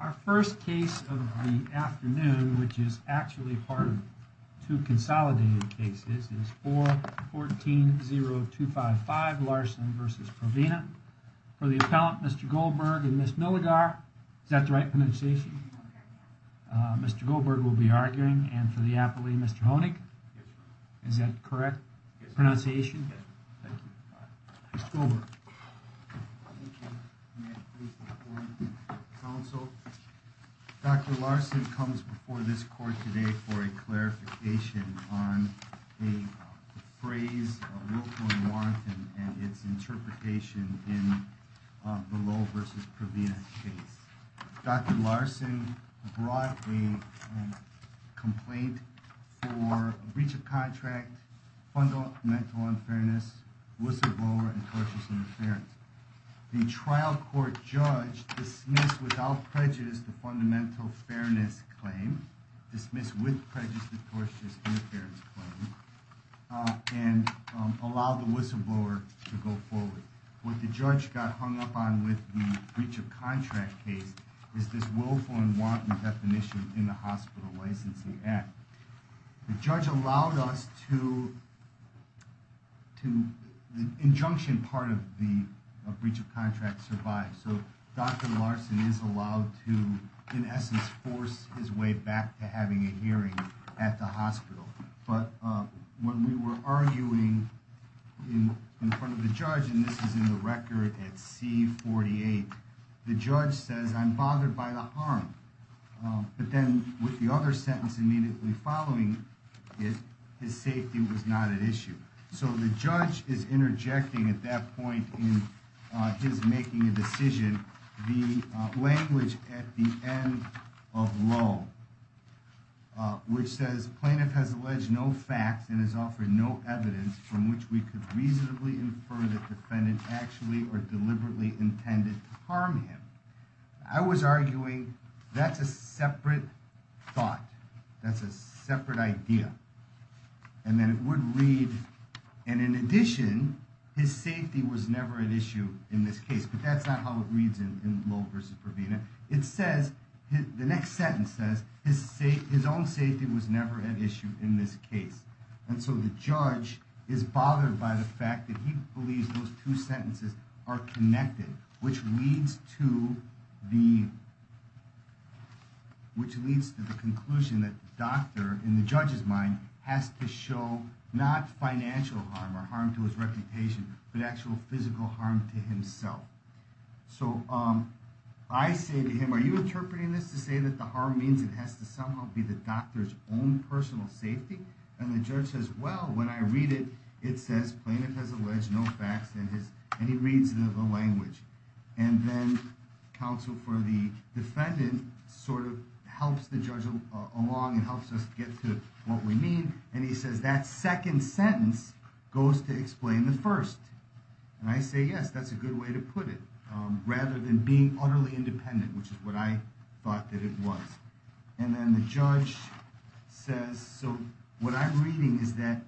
Our first case of the afternoon, which is actually part of two consolidated cases, is 4-14-0255 Larson v. Provena. For the appellant, Mr. Goldberg and Ms. Milligar, is that the right pronunciation? Mr. Goldberg will be arguing, and for the appellee, Mr. Honig? Yes, Your Honor. Is that correct? Yes, Your Honor. Pronunciation? Yes, Your Honor. Thank you. Mr. Goldberg. Thank you. May I please inform the counsel? Dr. Larson comes before this court today for a clarification on a phrase, a willful warrant, and its interpretation in the Lowe v. Provena case. Dr. Larson brought a complaint for breach of contract, fundamental unfairness, whistleblower, and tortious interference. The trial court judge dismissed without prejudice the fundamental fairness claim, dismissed with prejudice the tortious interference claim, and allowed the whistleblower to go forward. What the judge got hung up on with the breach of contract case is this willful and warranted definition in the Hospital Licensing Act. The judge allowed us to, the injunction part of the breach of contract survived, so Dr. Larson is allowed to, in essence, force his way back to having a hearing at the hospital. But when we were arguing in front of the judge, and this is in the record at C-48, the judge says, I'm bothered by the harm, but then with the other sentence immediately following it, his safety was not at issue. So the judge is interjecting at that point in his making a decision the language at the end of Lowe, which says plaintiff has alleged no facts and has offered no evidence from which we could reasonably infer the defendant actually or deliberately intended to harm him. I was arguing that's a separate thought. That's a separate idea. And then it would read, and in addition, his safety was never an issue in this case, but that's not how it reads in Lowe versus Provena. It says, the next sentence says, his own safety was never an issue in this case. And so the judge is bothered by the fact that he believes those two sentences are connected, which leads to the conclusion that the doctor, in the judge's mind, has to show not financial harm or harm to his reputation, but actual physical harm to himself. So I say to him, are you interpreting this to say that the harm means it has to somehow be the doctor's own personal safety? And the judge says, well, when I read it, it says plaintiff has alleged no facts and he reads the language. And then counsel for the defendant sort of helps the judge along and helps us get to what we mean. And he says that second sentence goes to explain the first. And I say, yes, that's a good way to put it, rather than being utterly independent, which is what I thought that it was. And then the judge says, so what I'm reading is that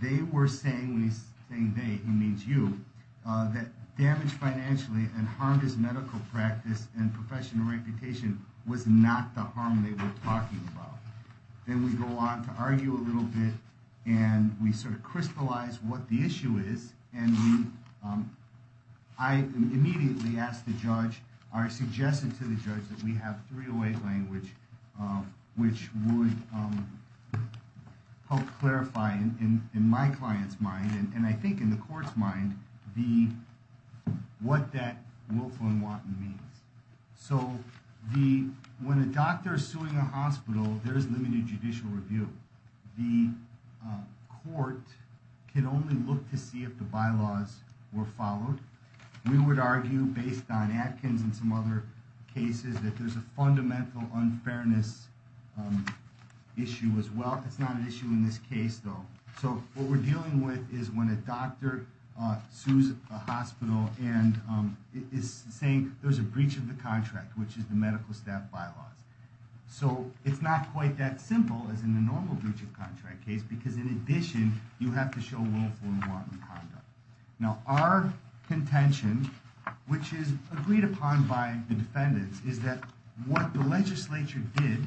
they were saying, when he's saying they, he means you, that damage financially and harm his medical practice and professional reputation was not the harm they were talking about. Then we go on to argue a little bit and we sort of crystallize what the issue is. And I immediately asked the judge, or suggested to the judge, that we have 308 language, which would help clarify in my client's mind and I think in the court's mind, what that willful and wanton means. So when a doctor is suing a hospital, there is limited judicial review. The court can only look to see if the bylaws were followed. We would argue, based on Atkins and some other cases, that there's a fundamental unfairness issue as well. It's not an issue in this case, though. So what we're dealing with is when a doctor sues a hospital and is saying there's a breach of the contract, which is the medical staff bylaws. So it's not quite that simple as in the normal breach of contract case, because in addition, you have to show willful and wanton conduct. Now, our contention, which is agreed upon by the defendants, is that what the legislature did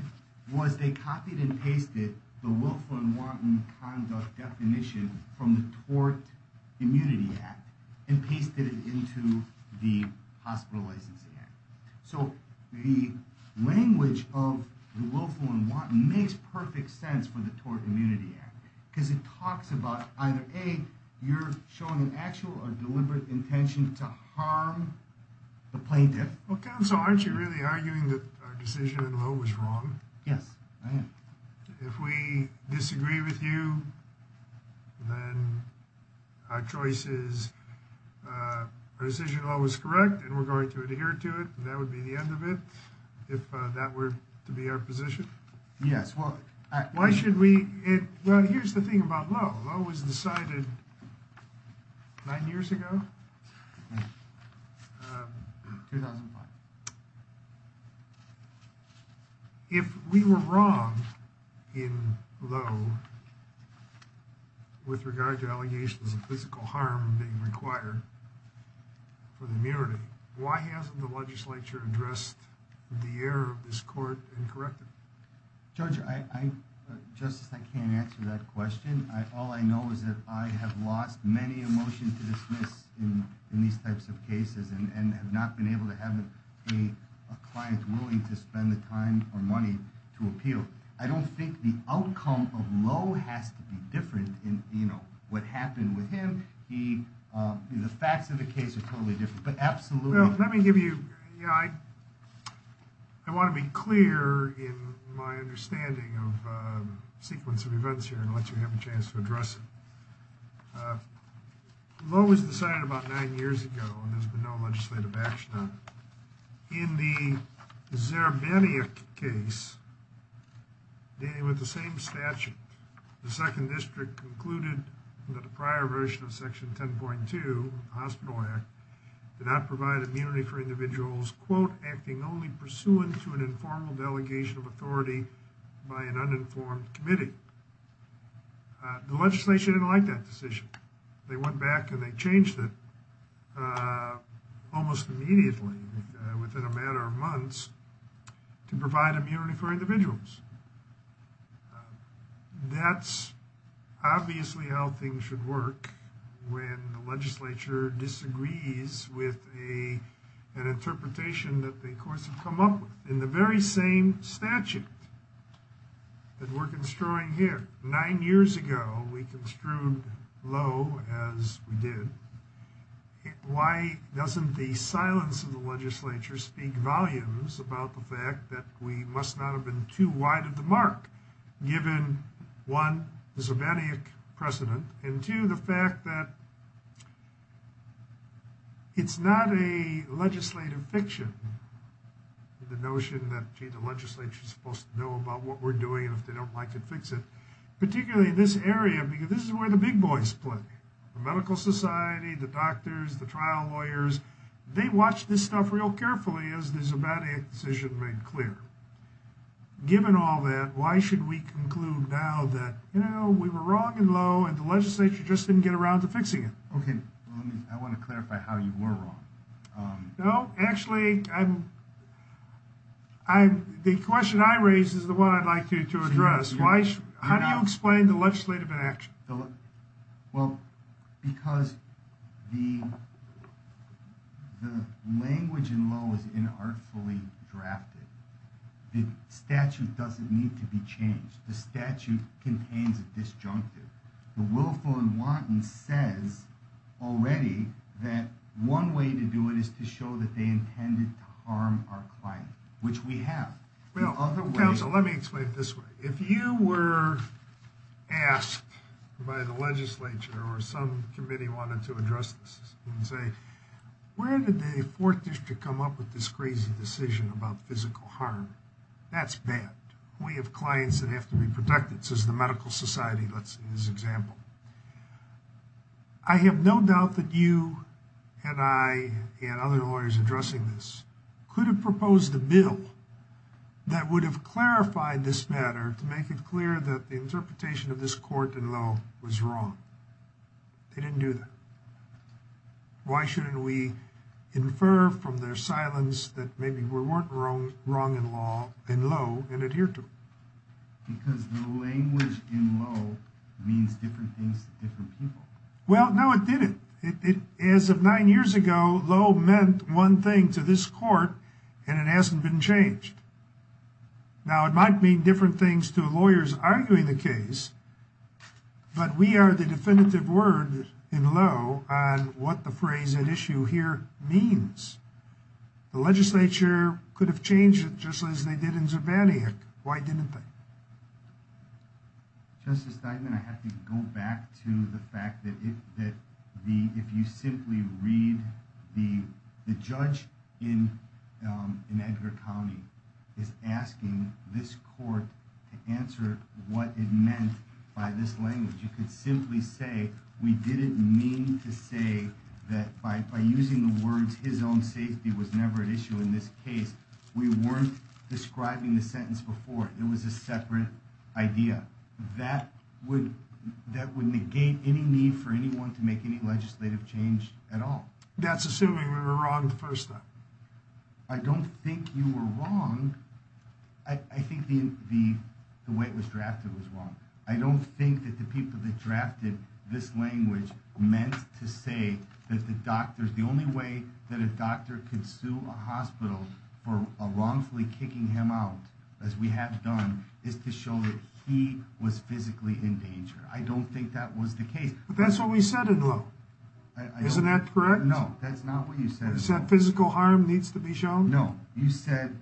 was they copied and pasted the willful and wanton conduct definition from the Tort Immunity Act and pasted it into the Hospital Licensing Act. So the language of the willful and wanton makes perfect sense for the Tort Immunity Act, because it talks about either, A, you're showing an actual or deliberate intention to harm the plaintiff. Okay, so aren't you really arguing that our decision in Lowe was wrong? Yes, I am. If we disagree with you, then our choice is our decision in Lowe was correct, and we're going to adhere to it, and that would be the end of it, if that were to be our position? Yes. Well, here's the thing about Lowe. Lowe was decided nine years ago. 2005. If we were wrong in Lowe with regard to allegations of physical harm being required for the immunity, why hasn't the legislature addressed the error of this court and corrected it? Judge, just as I can't answer that question, all I know is that I have lost many emotions to dismiss in these types of cases and have not been able to have a client willing to spend the time or money to appeal. I don't think the outcome of Lowe has to be different in what happened with him. The facts of the case are totally different, but absolutely. Well, let me give you – I want to be clear in my understanding of the sequence of events here and let you have a chance to address it. Lowe was decided about nine years ago, and there's been no legislative action on it. In the Zerbeniuk case, dealing with the same statute, the second district concluded that the prior version of section 10.2 of the Hospital Act did not provide immunity for individuals, quote, acting only pursuant to an informal delegation of authority by an uninformed committee. The legislature didn't like that decision. They went back and they changed it almost immediately within a matter of months to provide immunity for individuals. That's obviously how things should work when the legislature disagrees with an interpretation that the courts have come up with. In the very same statute that we're construing here, nine years ago, we construed Lowe as we did. Why doesn't the silence of the legislature speak volumes about the fact that we must not have been too wide of the mark given, one, the Zerbeniuk precedent, and two, the fact that it's not a legislative fiction, the notion that, gee, the legislature is supposed to know about what we're doing and if they don't like it, fix it. Particularly in this area, because this is where the big boys play. The medical society, the doctors, the trial lawyers, they watch this stuff real carefully as the Zerbeniuk decision made clear. Given all that, why should we conclude now that, you know, we were wrong in Lowe and the legislature just didn't get around to fixing it? Okay, I want to clarify how you were wrong. No, actually, the question I raised is the one I'd like you to address. How do you explain the legislative inaction? Well, because the language in Lowe is inartfully drafted. The statute doesn't need to be changed. The statute contains a disjunctive. The willful and wanton says already that one way to do it is to show that they intended to harm our client, which we have. Well, counsel, let me explain it this way. If you were asked by the legislature or some committee wanted to address this and say, where did the fourth district come up with this crazy decision about physical harm? That's bad. We have clients that have to be protected, says the Medical Society in this example. I have no doubt that you and I and other lawyers addressing this could have proposed a bill that would have clarified this matter to make it clear that the interpretation of this court in Lowe was wrong. They didn't do that. Why shouldn't we infer from their silence that maybe we weren't wrong in Lowe and adhere to it? Because the language in Lowe means different things to different people. Well, no, it didn't. As of nine years ago, Lowe meant one thing to this court, and it hasn't been changed. Now, it might mean different things to lawyers arguing the case, but we are the definitive word in Lowe on what the phrase at issue here means. The legislature could have changed it just as they did in Zurbaniak. Why didn't they? Justice Steinman, I have to go back to the fact that if you simply read the judge in Edgar County is asking this court to answer what it meant by this language, you could simply say we didn't mean to say that by using the words his own safety was never an issue in this case. We weren't describing the sentence before. It was a separate idea that would negate any need for anyone to make any legislative change at all. That's assuming we were wrong the first time. I don't think you were wrong. I think the way it was drafted was wrong. I don't think that the people that drafted this language meant to say that the doctors, the only way that a doctor could sue a hospital for a wrongfully kicking him out, as we have done, is to show that he was physically in danger. I don't think that was the case. That's what we said. Isn't that correct? No, that's not what you said. Physical harm needs to be shown. No, you said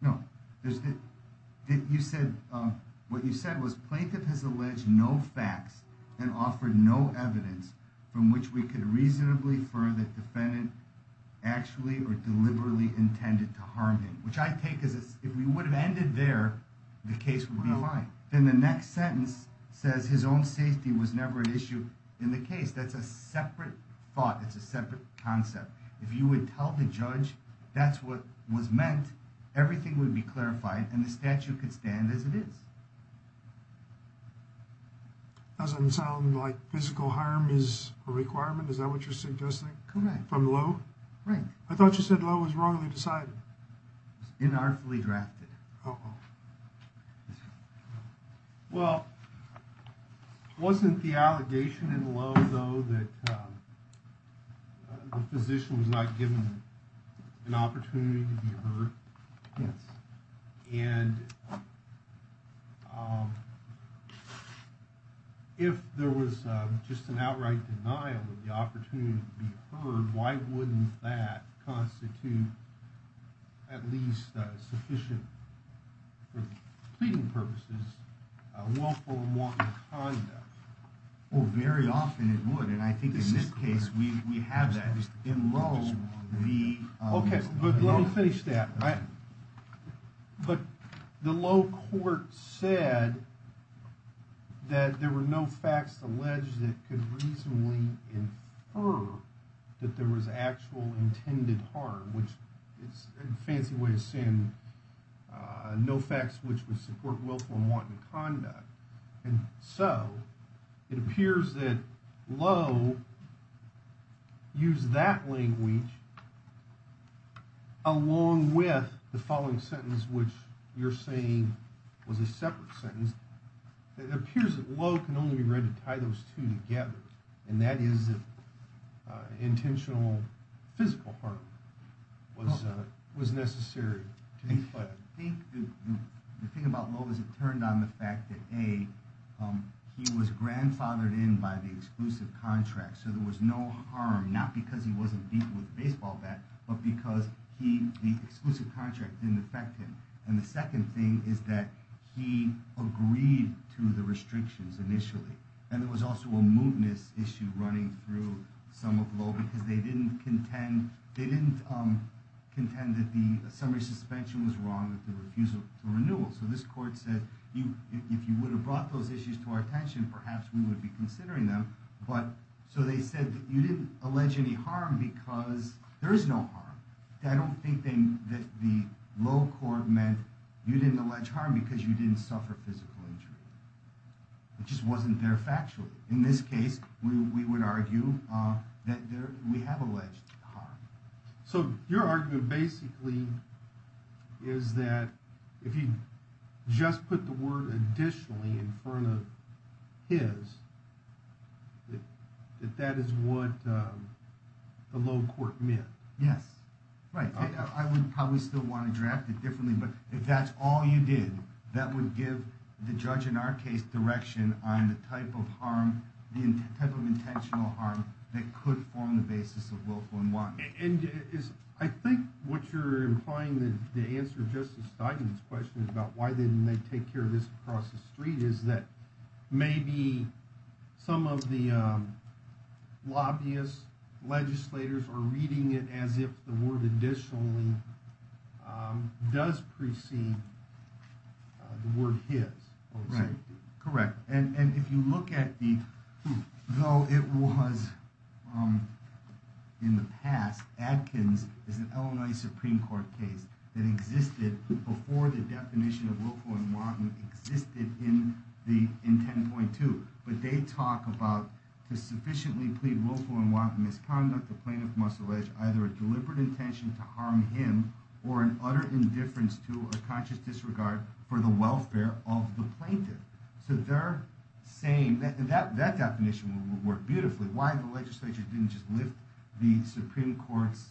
no. You said what you said was plaintiff has alleged no facts and offered no evidence from which we could reasonably further defendant actually or deliberately intended to harm him, which I take as if we would have ended there. The case would be aligned. Then the next sentence says his own safety was never an issue in the case. That's a separate thought. It's a separate concept. If you would tell the judge that's what was meant, everything would be clarified and the statute could stand as it is. Doesn't sound like physical harm is a requirement. Is that what you're suggesting? Correct. From Lowe? Right. I thought you said Lowe was wrongly decided. Inartfully drafted. Uh-oh. Well, wasn't the allegation in Lowe, though, that the physician was not given an opportunity to be heard? Yes. And if there was just an outright denial of the opportunity to be heard, why wouldn't that constitute at least sufficient for pleading purposes, a willful and wanton conduct? Oh, very often it would. And I think in this case, we have that. In Lowe, the. Okay. But let me finish that, right? But the Lowe court said that there were no facts alleged that could reasonably infer that there was actual intended harm, which is a fancy way of saying no facts which would support willful and wanton conduct. And so it appears that Lowe used that language along with the following sentence, which you're saying was a separate sentence. It appears that Lowe can only be read to tie those two together, and that is intentional physical harm was necessary. I think the thing about Lowe is it turned on the fact that, A, he was grandfathered in by the exclusive contract. So there was no harm, not because he wasn't beaten with a baseball bat, but because the exclusive contract didn't affect him. And the second thing is that he agreed to the restrictions initially. And there was also a mootness issue running through some of Lowe, because they didn't contend that the summary suspension was wrong with the refusal to renewal. So this court said, if you would have brought those issues to our attention, perhaps we would be considering them. So they said that you didn't allege any harm because there is no harm. I don't think that the Lowe court meant you didn't allege harm because you didn't suffer physical injury. It just wasn't there factually. In this case, we would argue that we have alleged harm. So your argument basically is that if you just put the word additionally in front of his, that that is what the Lowe court meant. Yes. Right. I would probably still want to draft it differently, but if that's all you did, that would give the judge in our case direction on the type of harm, the type of intentional harm that could form the basis of willful and want. And is I think what you're implying that the answer just starting this question is about why didn't they take care of this across the street? Is that maybe some of the lobbyists, legislators are reading it as if the word additionally does precede the word hits. Right. Correct. And if you look at the though it was in the past, Adkins is an Illinois Supreme Court case that existed before the definition of willful and wanton existed in the in 10.2. But they talk about to sufficiently plead willful and wanton misconduct. The plaintiff must allege either a deliberate intention to harm him or an utter indifference to a conscious disregard for the welfare of the plaintiff. So they're saying that that that definition would work beautifully. Why the legislature didn't just lift the Supreme Court's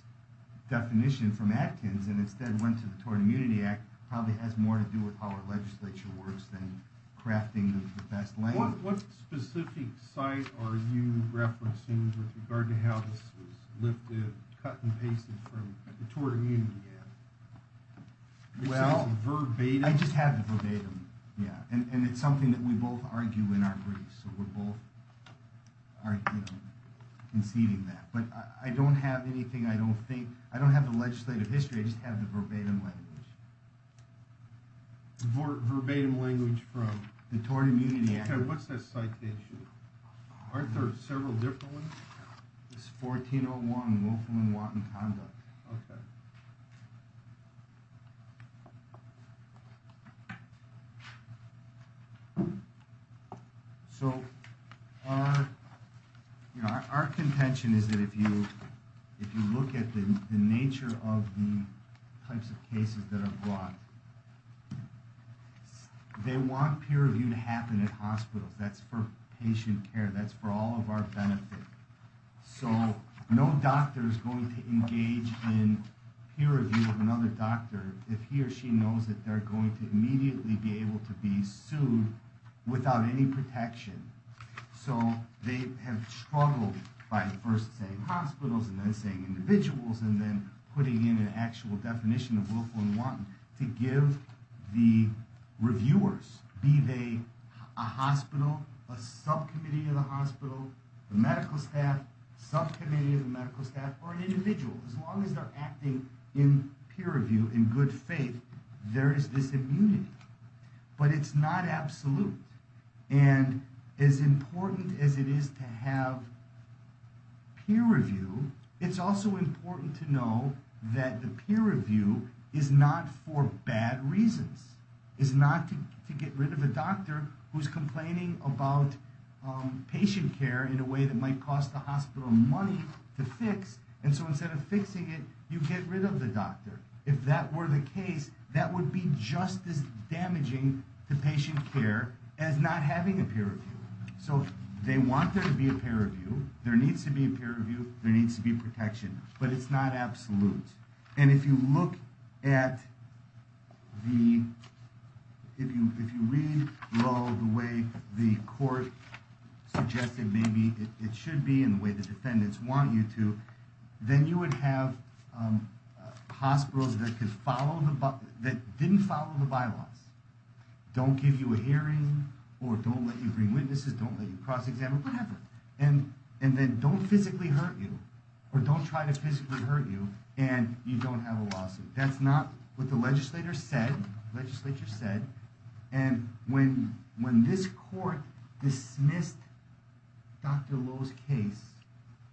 definition from Adkins and instead went to the Tort Immunity Act probably has more to do with how our legislature works than crafting the best language. What specific site are you referencing with regard to how this was lifted, cut and pasted from the Tort Immunity Act? Well, verbatim, I just have the verbatim. Yeah. And it's something that we both argue in our briefs. So we're both are conceding that. But I don't have anything. I don't think I don't have the legislative history. I just have the verbatim language. For verbatim language from the Tort Immunity Act, what's the citation? Are there several different ones? It's 1401 willful and wanton conduct. OK. So, you know, our contention is that if you if you look at the nature of the types of cases that are brought. They want peer review to happen at hospitals. That's for patient care. That's for all of our benefit. So no doctor is going to engage in peer review of another doctor if he or she knows that they're going to immediately be able to be sued without any protection. So they have struggled by first saying hospitals and then saying individuals and then putting in an actual definition of willful and wanton to give the reviewers, be they a hospital, a subcommittee of the hospital, the medical staff, subcommittee of the medical staff or an individual. As long as they're acting in peer review in good faith, there is this immunity. But it's not absolute. And as important as it is to have peer review, it's also important to know that the peer review is not for bad reasons, is not to get rid of a doctor who's complaining about patient care in a way that might cost the hospital money to fix. Fixing it, you get rid of the doctor. If that were the case, that would be just as damaging to patient care as not having a peer review. So they want there to be a peer review. There needs to be a peer review. There needs to be protection. But it's not absolute. And if you look at the if you if you read the way the court suggested, maybe it should be in the way the defendants want you to, then you would have hospitals that could follow the that didn't follow the bylaws. Don't give you a hearing or don't let you bring witnesses, don't let you cross examine, whatever. And and then don't physically hurt you or don't try to physically hurt you. And you don't have a lawsuit. That's not what the legislator said. Legislature said. And when when this court dismissed Dr. Lowe's case,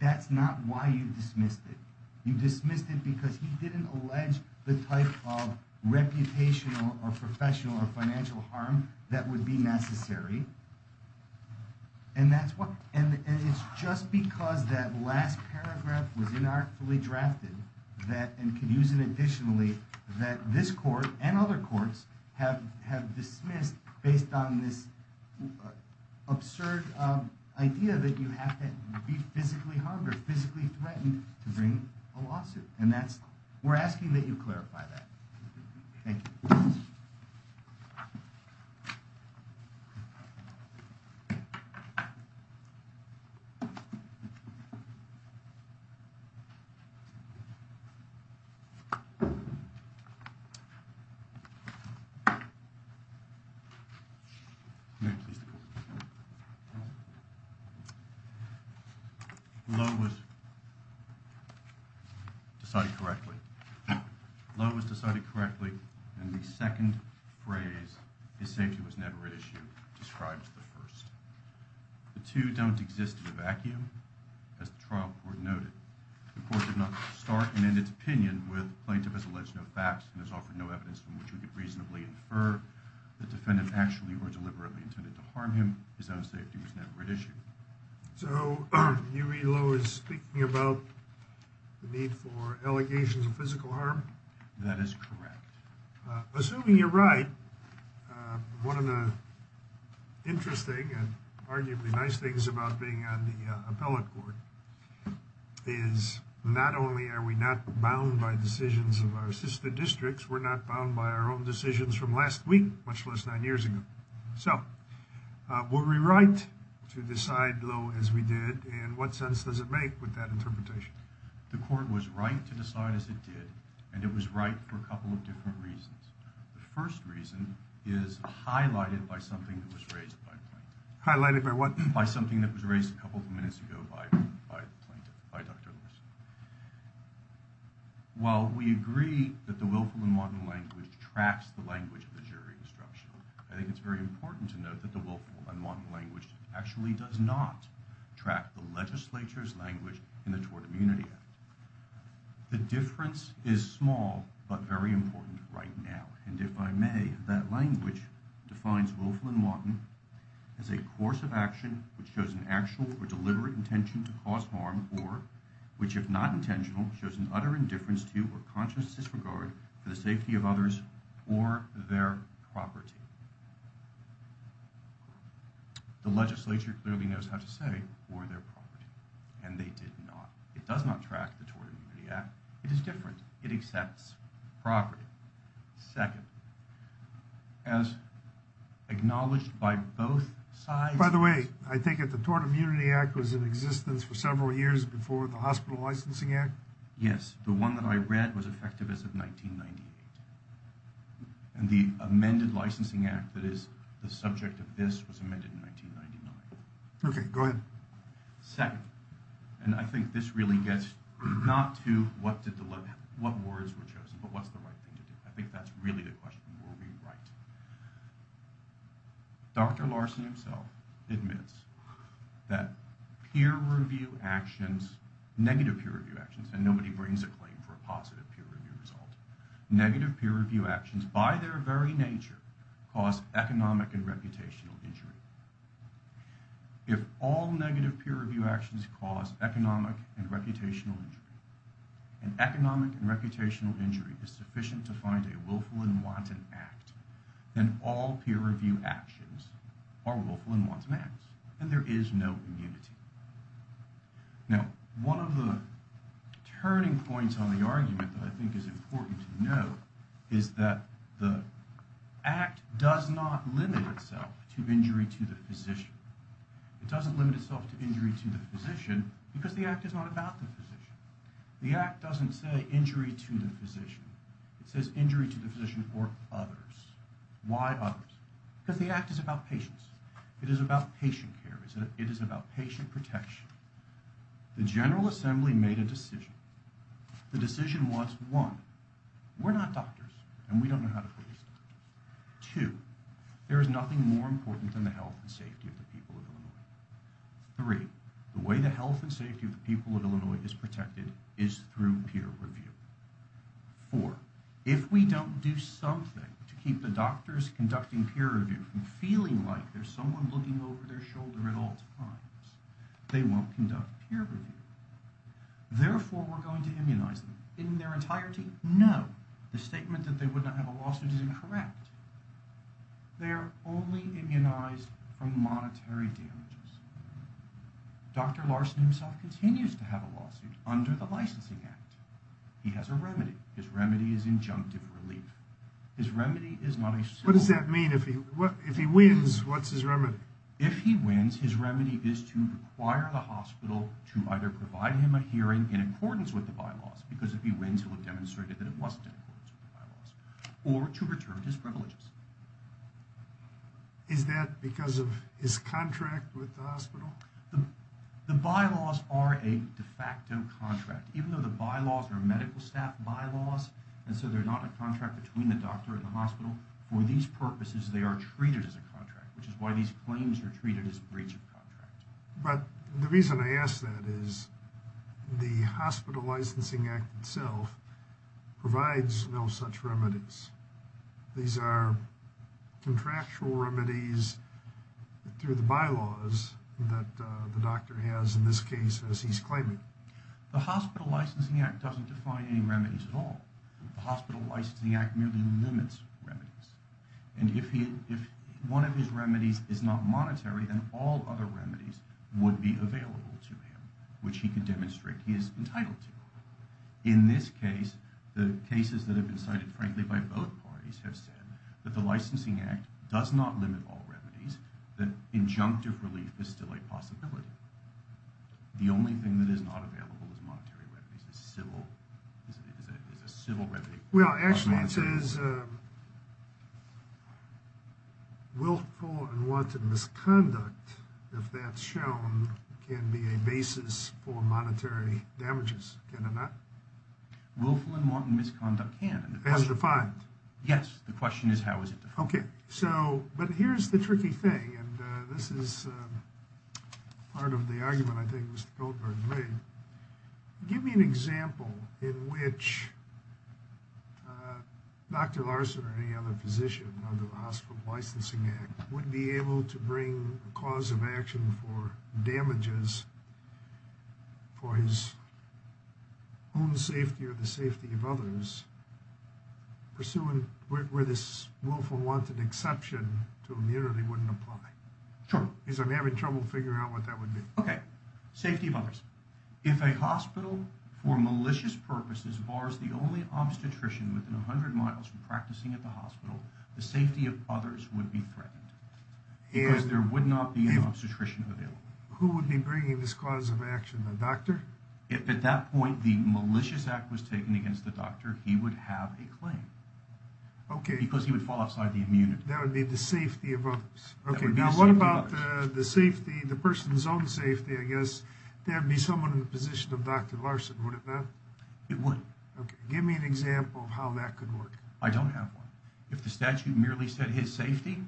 that's not why you dismissed it. You dismissed it because he didn't allege the type of reputation or professional or financial harm that would be necessary. And that's why. And it's just because that last paragraph was inartfully drafted that and could use it additionally, that this court and other courts have have dismissed based on this absurd idea that you have to be physically harmed or physically threatened to bring a lawsuit. And that's we're asking that you clarify that. Thank you. Thank you. Thank you. Thank you. Decided correctly. Lowe was decided correctly. And the second phrase is safety was never an issue. Describes the first. The two don't exist in a vacuum. As the trial court noted, the court did not start. And in its opinion with plaintiff has alleged no facts and has offered no evidence from which we could reasonably infer the defendant actually or deliberately intended to harm him. His own safety was never an issue. So you really low is speaking about the need for allegations of physical harm. That is correct. Assuming you're right. One of the interesting and arguably nice things about being on the appellate court is not only are we not bound by decisions of our sister districts, we're not bound by our own decisions from last week, much less nine years ago. So, were we right to decide low as we did and what sense does it make with that interpretation. The court was right to decide as it did. And it was right for a couple of different reasons. The first reason is highlighted by something that was raised. Highlighted by what? By something that was raised a couple of minutes ago by by by Dr. While we agree that the willful and modern language tracks the language of the jury instruction. I think it's very important to note that the willful and modern language actually does not track the legislature's language in the tort immunity. The difference is small, but very important right now. And if I may, that language defines willful and modern as a course of action, which shows an actual or deliberate intention to cause harm or which, if not intentional, shows an utter indifference to or conscious disregard for the safety of others or their property. The legislature clearly knows how to say or their property. And they did not. It does not track the Tort Immunity Act. It is different. It accepts property. Second, as acknowledged by both sides. By the way, I think that the Tort Immunity Act was in existence for several years before the Hospital Licensing Act. Yes, the one that I read was effective as of 1998. And the amended Licensing Act that is the subject of this was amended in 1999. Okay, go ahead. Second, and I think this really gets not to what words were chosen, but what's the right thing to do. I think that's really the question. Will we write? Dr. Larson himself admits that peer review actions, negative peer review actions, and nobody brings a claim for a positive peer review result. Negative peer review actions, by their very nature, cause economic and reputational injury. If all negative peer review actions cause economic and reputational injury, and economic and reputational injury is sufficient to find a willful and wanton act, then all peer review actions are willful and wanton acts. And there is no immunity. Now, one of the turning points on the argument that I think is important to note is that the Act does not limit itself to injury to the physician. It doesn't limit itself to injury to the physician because the Act is not about the physician. The Act doesn't say injury to the physician. It says injury to the physician or others. Why others? Because the Act is about patients. It is about patient care. It is about patient protection. The General Assembly made a decision. The decision was, one, we're not doctors, and we don't know how to treat these doctors. Two, there is nothing more important than the health and safety of the people of Illinois. Three, the way the health and safety of the people of Illinois is protected is through peer review. Four, if we don't do something to keep the doctors conducting peer review from feeling like there's someone looking over their shoulder at all times, they won't conduct peer review. Therefore, we're going to immunize them. In their entirety, no. The statement that they would not have a lawsuit is incorrect. They are only immunized from monetary damages. Dr. Larson himself continues to have a lawsuit under the Licensing Act. He has a remedy. His remedy is injunctive relief. His remedy is not a civil one. What does that mean? If he wins, what's his remedy? If he wins, his remedy is to require the hospital to either provide him a hearing in accordance with the bylaws, because if he wins, he will have demonstrated that it wasn't in accordance with the bylaws, or to return his privileges. Is that because of his contract with the hospital? The bylaws are a de facto contract. Even though the bylaws are medical staff bylaws, and so they're not a contract between the doctor and the hospital, for these purposes they are treated as a contract, which is why these claims are treated as breach of contract. But the reason I ask that is the Hospital Licensing Act itself provides no such remedies. These are contractual remedies through the bylaws that the doctor has in this case as he's claiming. The Hospital Licensing Act doesn't define any remedies at all. The Hospital Licensing Act merely limits remedies. And if one of his remedies is not monetary, then all other remedies would be available to him, which he could demonstrate he is entitled to. In this case, the cases that have been cited, frankly, by both parties, have said that the Licensing Act does not limit all remedies, that injunctive relief is still a possibility. The only thing that is not available is monetary remedies, is a civil remedy. Well, actually it says willful and wanton misconduct, if that's shown, can be a basis for monetary damages, can it not? Willful and wanton misconduct can. As defined? Yes, the question is how is it defined. Okay, so, but here's the tricky thing, and this is part of the argument I think Mr. Goldberg made. Give me an example in which Dr. Larson or any other physician under the Hospital Licensing Act would be able to bring a cause of action for damages for his own safety or the safety of others, pursuing where this willful and wanton exception to immunity wouldn't apply. Sure. Because I'm having trouble figuring out what that would be. Okay, safety of others. If a hospital for malicious purposes bars the only obstetrician within 100 miles from practicing at the hospital, the safety of others would be threatened, because there would not be an obstetrician available. Who would be bringing this cause of action, the doctor? If at that point the malicious act was taken against the doctor, he would have a claim. Okay. Because he would fall outside the immunity. That would be the safety of others. That would be the safety of others. Okay, now what about the safety, the person's own safety, I guess, there would be someone in the position of Dr. Larson, would it not? It would. Okay, give me an example of how that could work. I don't have one. If the statute merely said his safety,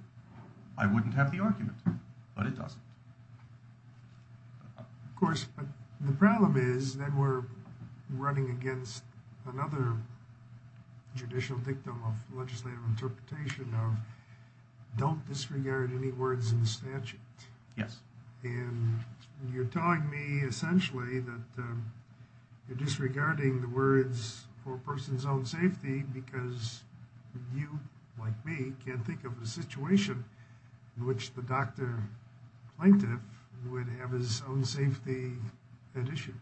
I wouldn't have the argument, but it doesn't. Of course, the problem is that we're running against another judicial dictum of legislative interpretation of don't disregard any words in the statute. Yes. And you're telling me essentially that you're disregarding the words for a person's own safety because you, like me, can't think of a situation in which the doctor plaintiff would have his own safety at issue.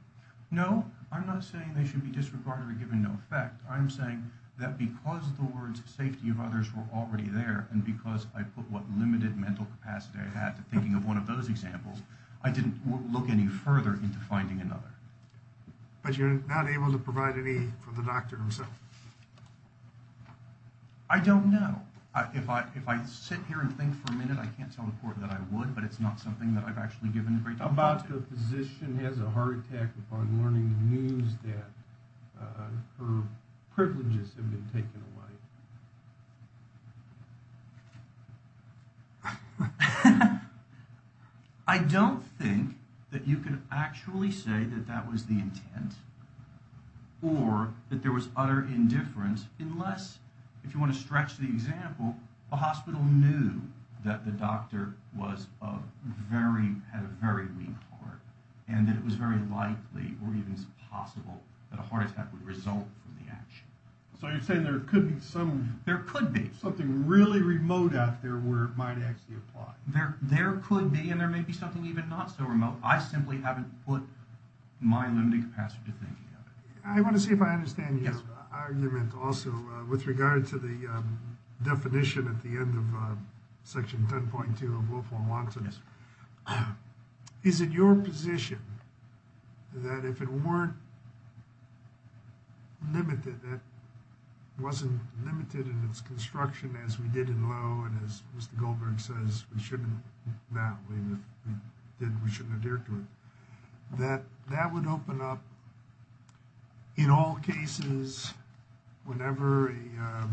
No, I'm not saying they should be disregarded or given no effect. I'm saying that because the words safety of others were already there, and because I put what limited mental capacity I had to thinking of one of those examples, I didn't look any further into finding another. But you're not able to provide any for the doctor himself? I don't know. If I sit here and think for a minute, I can't tell the court that I would, but it's not something that I've actually given a great deal of thought to. How about the physician has a heart attack upon learning the news that her privileges have been taken away? I don't think that you could actually say that that was the intent or that there was utter indifference, unless, if you want to stretch the example, the hospital knew that the doctor had a very weak heart and that it was very likely or even possible that a heart attack would result from the action. So you're saying there could be something really remote out there where it might actually apply? There could be, and there may be something even not so remote. I simply haven't put my limited capacity to thinking of it. I want to see if I understand your argument also with regard to the definition at the end of Section 10.2 of lawful and lawlessness. Is it your position that if it weren't limited, that it wasn't limited in its construction as we did in Lowe and as Mr. Goldberg says we shouldn't adhere to it, that that would open up in all cases whenever a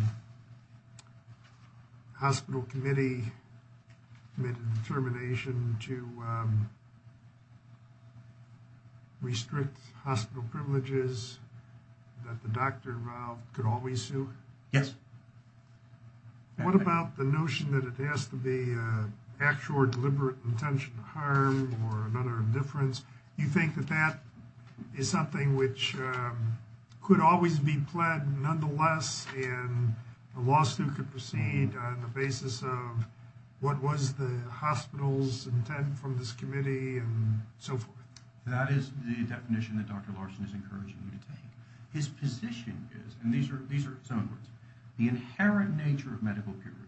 hospital committee made a determination to restrict hospital privileges that the doctor involved could always sue? Yes. What about the notion that it has to be actual or deliberate intention to harm or utter indifference? You think that that is something which could always be pled nonetheless and a lawsuit could proceed on the basis of what was the hospital's intent from this committee and so forth? That is the definition that Dr. Larson is encouraging you to take. His position is, and these are his own words, the inherent nature of medical peer review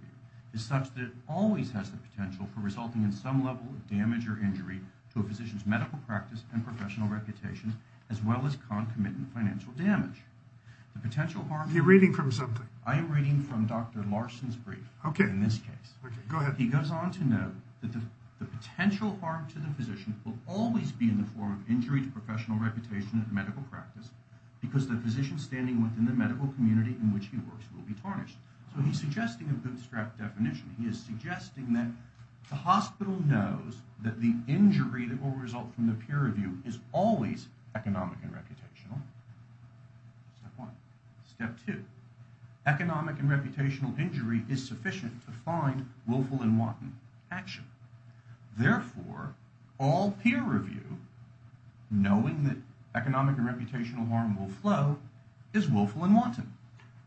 is such that it always has the potential for resulting in some level of damage or injury to a physician's medical practice and professional reputation as well as concomitant financial damage. The potential harm... You're reading from something. I am reading from Dr. Larson's brief in this case. Go ahead. He goes on to note that the potential harm to the physician will always be in the form of injury to professional reputation and medical practice because the physician standing within the medical community in which he works will be tarnished. So he's suggesting a bootstrap definition. He is suggesting that the hospital knows that the injury that will result from the peer review is always economic and reputational. Step one. Step two. Economic and reputational injury is sufficient to find willful and wanton action. Therefore, all peer review, knowing that economic and reputational harm will flow, is willful and wanton.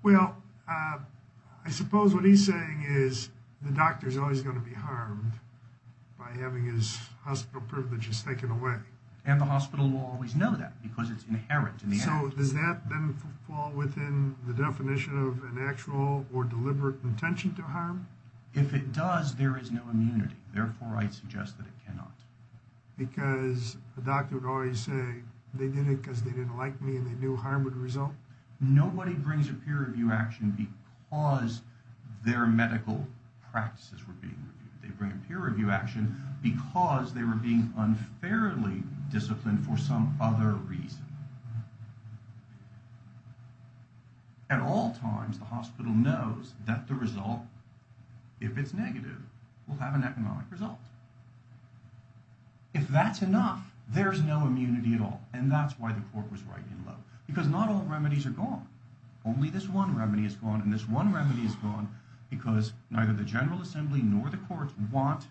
Well, I suppose what he's saying is the doctor is always going to be harmed by having his hospital privileges taken away. And the hospital will always know that because it's inherent in the act. So does that then fall within the definition of an actual or deliberate intention to harm? If it does, there is no immunity. Therefore, I suggest that it cannot. Because the doctor would always say they did it because they didn't like me and they knew harm would result? Nobody brings a peer review action because their medical practices were being reviewed. They bring a peer review action because they were being unfairly disciplined for some other reason. At all times, the hospital knows that the result, if it's negative, will have an economic result. If that's enough, there's no immunity at all. And that's why the court was right in love. Because not all remedies are gone. Only this one remedy is gone. And this one remedy is gone because neither the General Assembly nor the courts want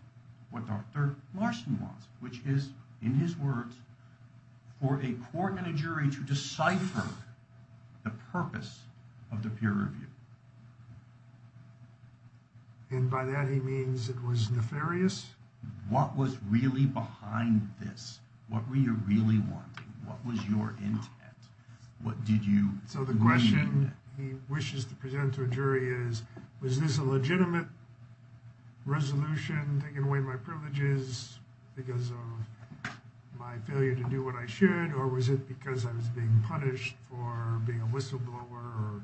what Dr. Larson wants. Which is, in his words, for a court and a jury to decipher the purpose of the peer review. And by that he means it was nefarious? What was really behind this? What were you really wanting? What was your intent? So the question he wishes to present to a jury is, was this a legitimate resolution taking away my privileges because of my failure to do what I should? Or was it because I was being punished for being a whistleblower or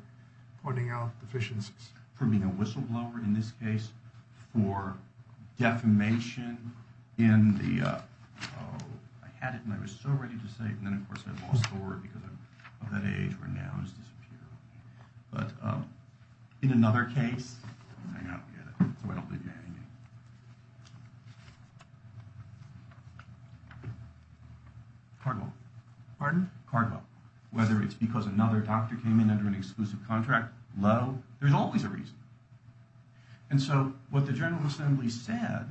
pointing out deficiencies? For being a whistleblower, in this case, for defamation in the... Oh, I had it and I was so ready to say it. And then of course I lost the word because of that age where nouns disappear. But in another case... Cardwell. Pardon? Cardwell. Whether it's because another doctor came in under an exclusive contract. Low. There's always a reason. And so what the General Assembly said,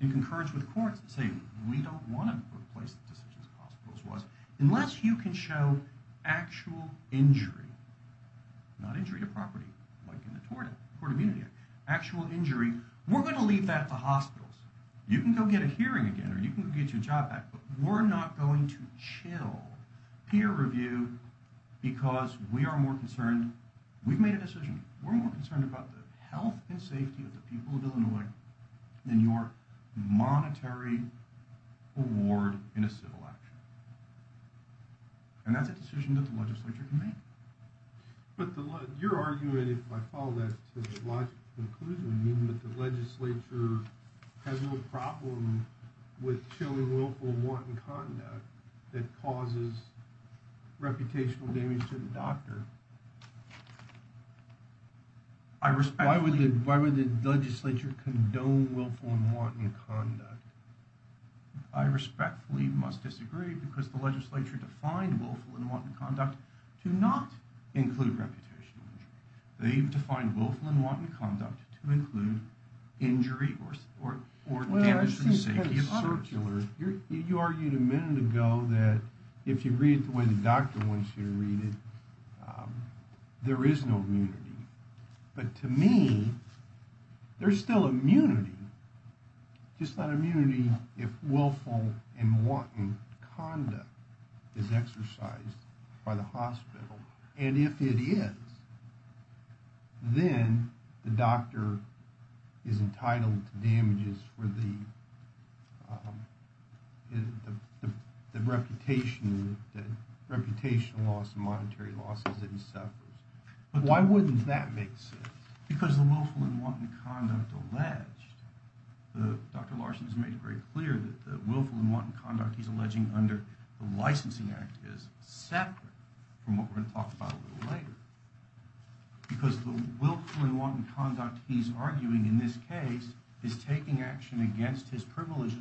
in concurrence with the courts, let's say we don't want to replace the decisions of hospitals, was unless you can show actual injury, not injury to property like in the tort immunity act, actual injury, we're going to leave that to hospitals. You can go get a hearing again or you can go get your job back, but we're not going to chill peer review because we are more concerned. We've made a decision. We're more concerned about the health and safety of the people of Illinois than your monetary award in a civil action. And that's a decision that the legislature can make. But you're arguing, if I follow that to the logical conclusion, that the legislature has a problem with showing willful wanton conduct that causes reputational damage to the doctor. Why would the legislature condone willful and wanton conduct? I respectfully must disagree because the legislature defined willful and wanton conduct to not include reputation. They've defined willful and wanton conduct to include injury or damage. You argued a minute ago that if you read it the way the doctor wants you to read it, there is no immunity. But to me, there's still immunity. Just not immunity if willful and wanton conduct is exercised by the hospital. And if it is, then the doctor is entitled to damages for the reputation loss, monetary losses and suffers. But why wouldn't that make sense? Because the willful and wanton conduct alleged, Dr. Larson has made it very clear that the willful and wanton conduct he's alleging under the licensing act is separate from what we're going to talk about a little later. Because the willful and wanton conduct he's arguing in this case is taking action against his privileges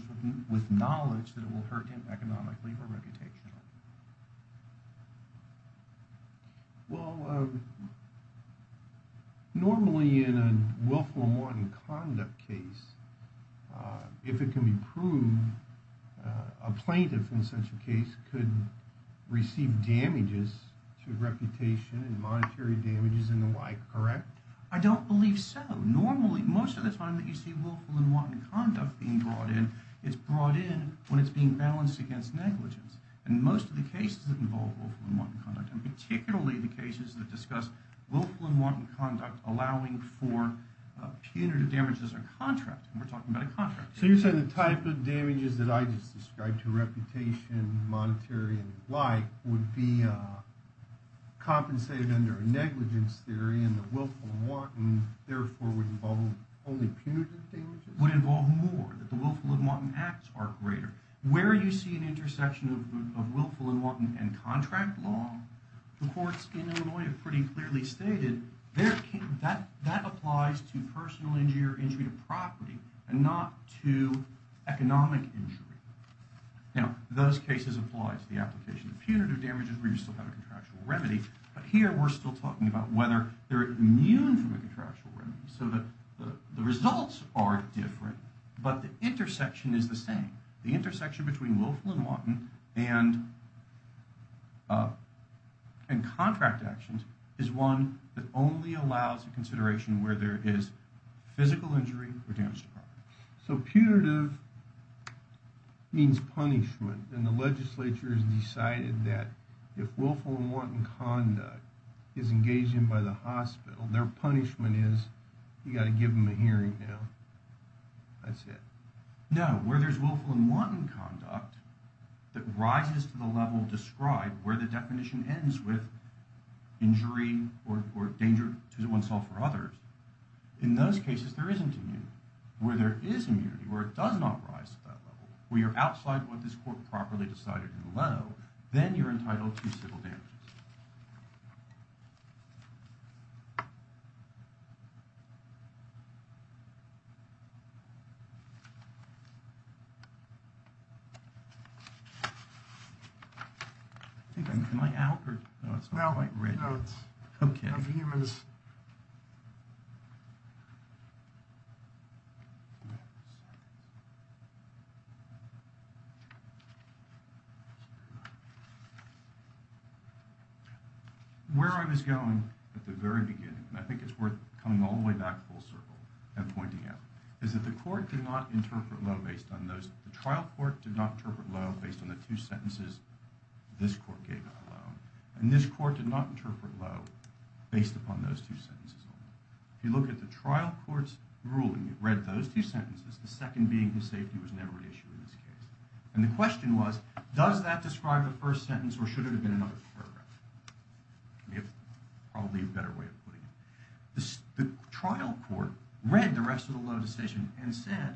with knowledge that it will hurt him economically or reputationally. Well, normally in a willful and wanton conduct case, if it can be proved, a plaintiff in such a case could receive damages to reputation and monetary damages and the like, correct? I don't believe so. Normally, most of the time that you see willful and wanton conduct being brought in, it's brought in when it's being balanced against negligence. And most of the cases that involve willful and wanton conduct, and particularly the cases that discuss willful and wanton conduct allowing for punitive damages or contract, and we're talking about a contract here. So you're saying the type of damages that I just described to reputation, monetary and the like would be compensated under a negligence theory and the willful and wanton therefore would involve only punitive damages? Would involve more, that the willful and wanton acts are greater. Where you see an intersection of willful and wanton and contract law, the courts in Illinois have pretty clearly stated that applies to personal injury or injury to property and not to economic injury. Now, those cases apply to the application of punitive damages where you still have a contractual remedy, but here we're still talking about whether they're immune from a contractual remedy so that the results are different, but the intersection is the same. The intersection between willful and wanton and contract actions is one that only allows a consideration where there is physical injury or damage to property. So punitive means punishment, and the legislature has decided that if willful and wanton conduct is engaged in by the hospital, their punishment is you've got to give them a hearing now. That's it. Now, where there's willful and wanton conduct that rises to the level described where the definition ends with injury or danger to oneself or others, in those cases there isn't immunity. Where there is immunity, where it does not rise to that level, where you're outside what this court properly decided in Leno, then you're entitled to civil damages. I think I'm, am I out, or? No, it's not quite written. No, it's humans. Where I was going at the very beginning, and I think it's worth coming all the way back full circle and pointing out, is that the court did not interpret Lowe based on those, the trial court did not interpret Lowe based on the two sentences this court gave on Lowe, and this court did not interpret Lowe based upon those two sentences. If you look at the trial court's ruling, it read those two sentences, the second being that safety was never an issue in this case. And the question was, does that describe the first sentence, or should it have been another paragraph? We have probably a better way of putting it. The trial court read the rest of the Lowe decision and said,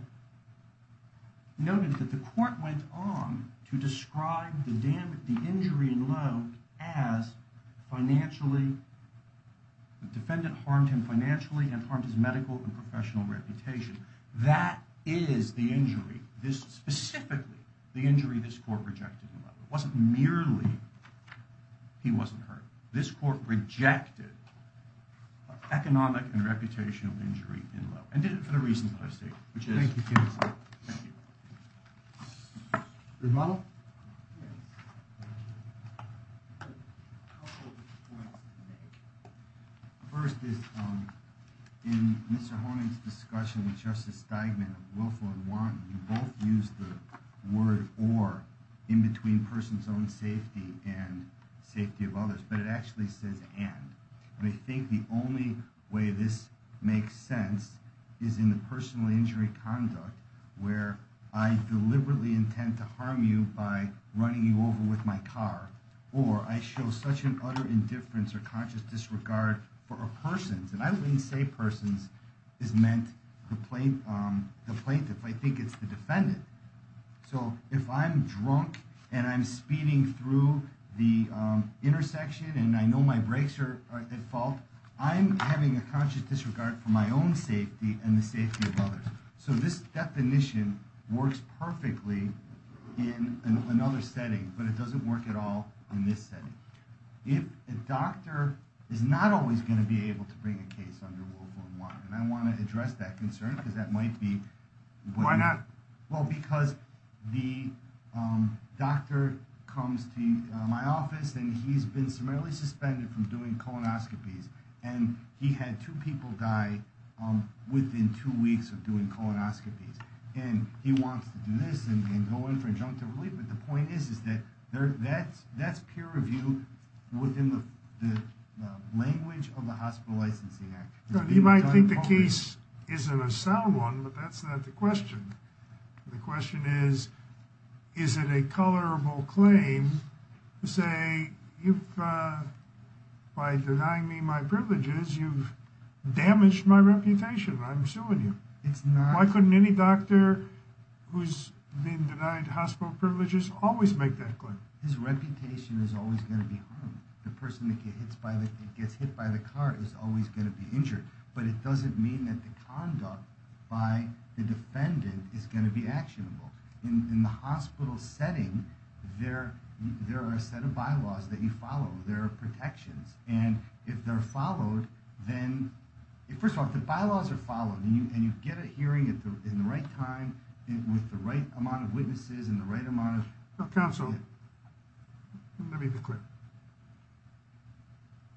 noted that the court went on to describe the injury in Lowe as financially, the defendant harmed him financially and harmed his medical and professional reputation. That is the injury, specifically the injury this court rejected in Lowe. It wasn't merely he wasn't hurt. And did it for the reasons that I've stated. Thank you, counsel. Thank you. Good model? Yes. I have a couple of points to make. First is, in Mr. Horning's discussion with Justice Steigman of Wilford and Warren, you both used the word or in between person's own safety and safety of others, but it actually says and. I think the only way this makes sense is in the personal injury conduct where I deliberately intend to harm you by running you over with my car, or I show such an utter indifference or conscious disregard for a person's, and I wouldn't say person's, is meant the plaintiff. I think it's the defendant. So if I'm drunk and I'm speeding through the intersection and I know my brakes are at fault, I'm having a conscious disregard for my own safety and the safety of others. So this definition works perfectly in another setting, but it doesn't work at all in this setting. A doctor is not always going to be able to bring a case under Wilford and Warren, and I want to address that concern because that might be. Why not? Well, because the doctor comes to my office and he's been summarily suspended from doing colonoscopies, and he had two people die within two weeks of doing colonoscopies, and he wants to do this and go in for injunctive relief, but the point is that that's peer reviewed within the language of the Hospital Licensing Act. He might think the case isn't a sound one, but that's not the question. The question is, is it a colorable claim to say, you've, by denying me my privileges, you've damaged my reputation. I'm suing you. Why couldn't any doctor who's been denied hospital privileges always make that claim? His reputation is always going to be harmed. The person that gets hit by the car is always going to be injured, but it doesn't mean that the conduct by the defendant is going to be actionable. In the hospital setting, there are a set of bylaws that you follow. There are protections, and if they're followed, then... First of all, if the bylaws are followed and you get a hearing in the right time with the right amount of witnesses and the right amount of... Counsel, let me be clear.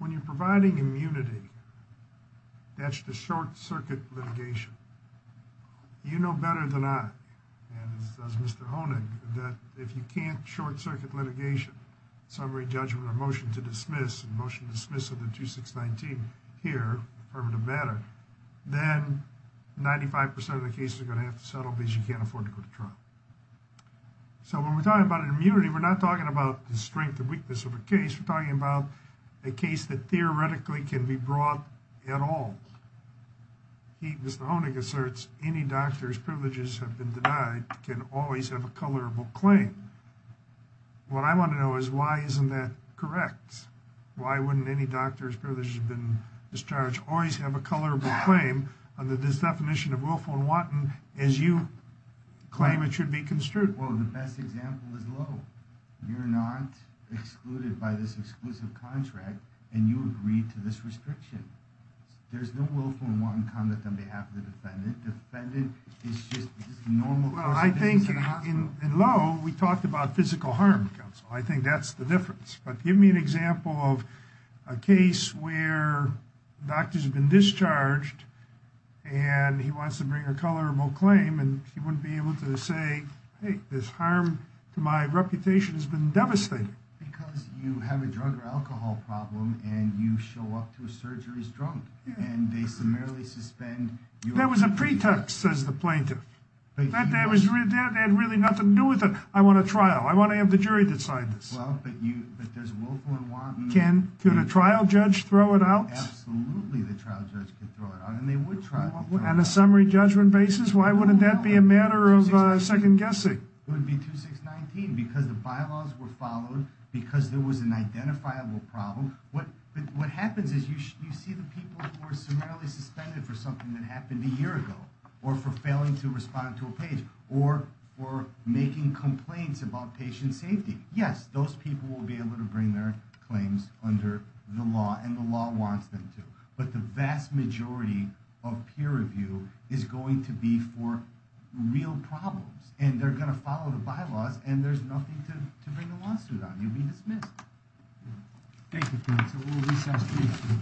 When you're providing immunity, that's the short-circuit litigation. You know better than I, and as does Mr. Honig, that if you can't short-circuit litigation, summary judgment, or motion to dismiss, motion to dismiss of the 2619 here, affirmative matter, then 95% of the cases are going to have to settle because you can't afford to go to trial. So when we're talking about immunity, we're not talking about the strength or weakness of a case. We're talking about a case that theoretically can be brought at all. Mr. Honig asserts any doctor's privileges have been denied can always have a colorable claim. What I want to know is why isn't that correct? Why wouldn't any doctor's privileges have been discharged always have a colorable claim under this definition of willful and wanton as you claim it should be construed? Well, the best example is Lowe. You're not excluded by this exclusive contract, and you agree to this restriction. There's no willful and wanton conduct on behalf of the defendant. Defendant is just normal person. Well, I think in Lowe, we talked about physical harm, Counsel. I think that's the difference. But give me an example of a case where a doctor's been discharged, and he wants to bring a colorable claim, and he wouldn't be able to say, hey, this harm to my reputation has been devastating. Because you have a drug or alcohol problem, and you show up to a surgery as drunk, and they summarily suspend you. That was a pretext, says the plaintiff. That had really nothing to do with it. I want a trial. I want to have the jury decide this. Well, but does willful and wanton mean... Can a trial judge throw it out? Absolutely the trial judge could throw it out, and they would try. On a summary judgment basis? Why wouldn't that be a matter of second guessing? It would be 2619, because the bylaws were followed, because there was an identifiable problem. What happens is you see the people who are summarily suspended for something that happened a year ago, or for failing to respond to a page, or for making complaints about patient safety. Yes, those people will be able to bring their claims under the law, and the law wants them to. But the vast majority of peer review is going to be for real problems. And they're going to follow the bylaws, and there's nothing to bring a lawsuit on. You'll be dismissed. Thank you, counsel. We'll recess, please.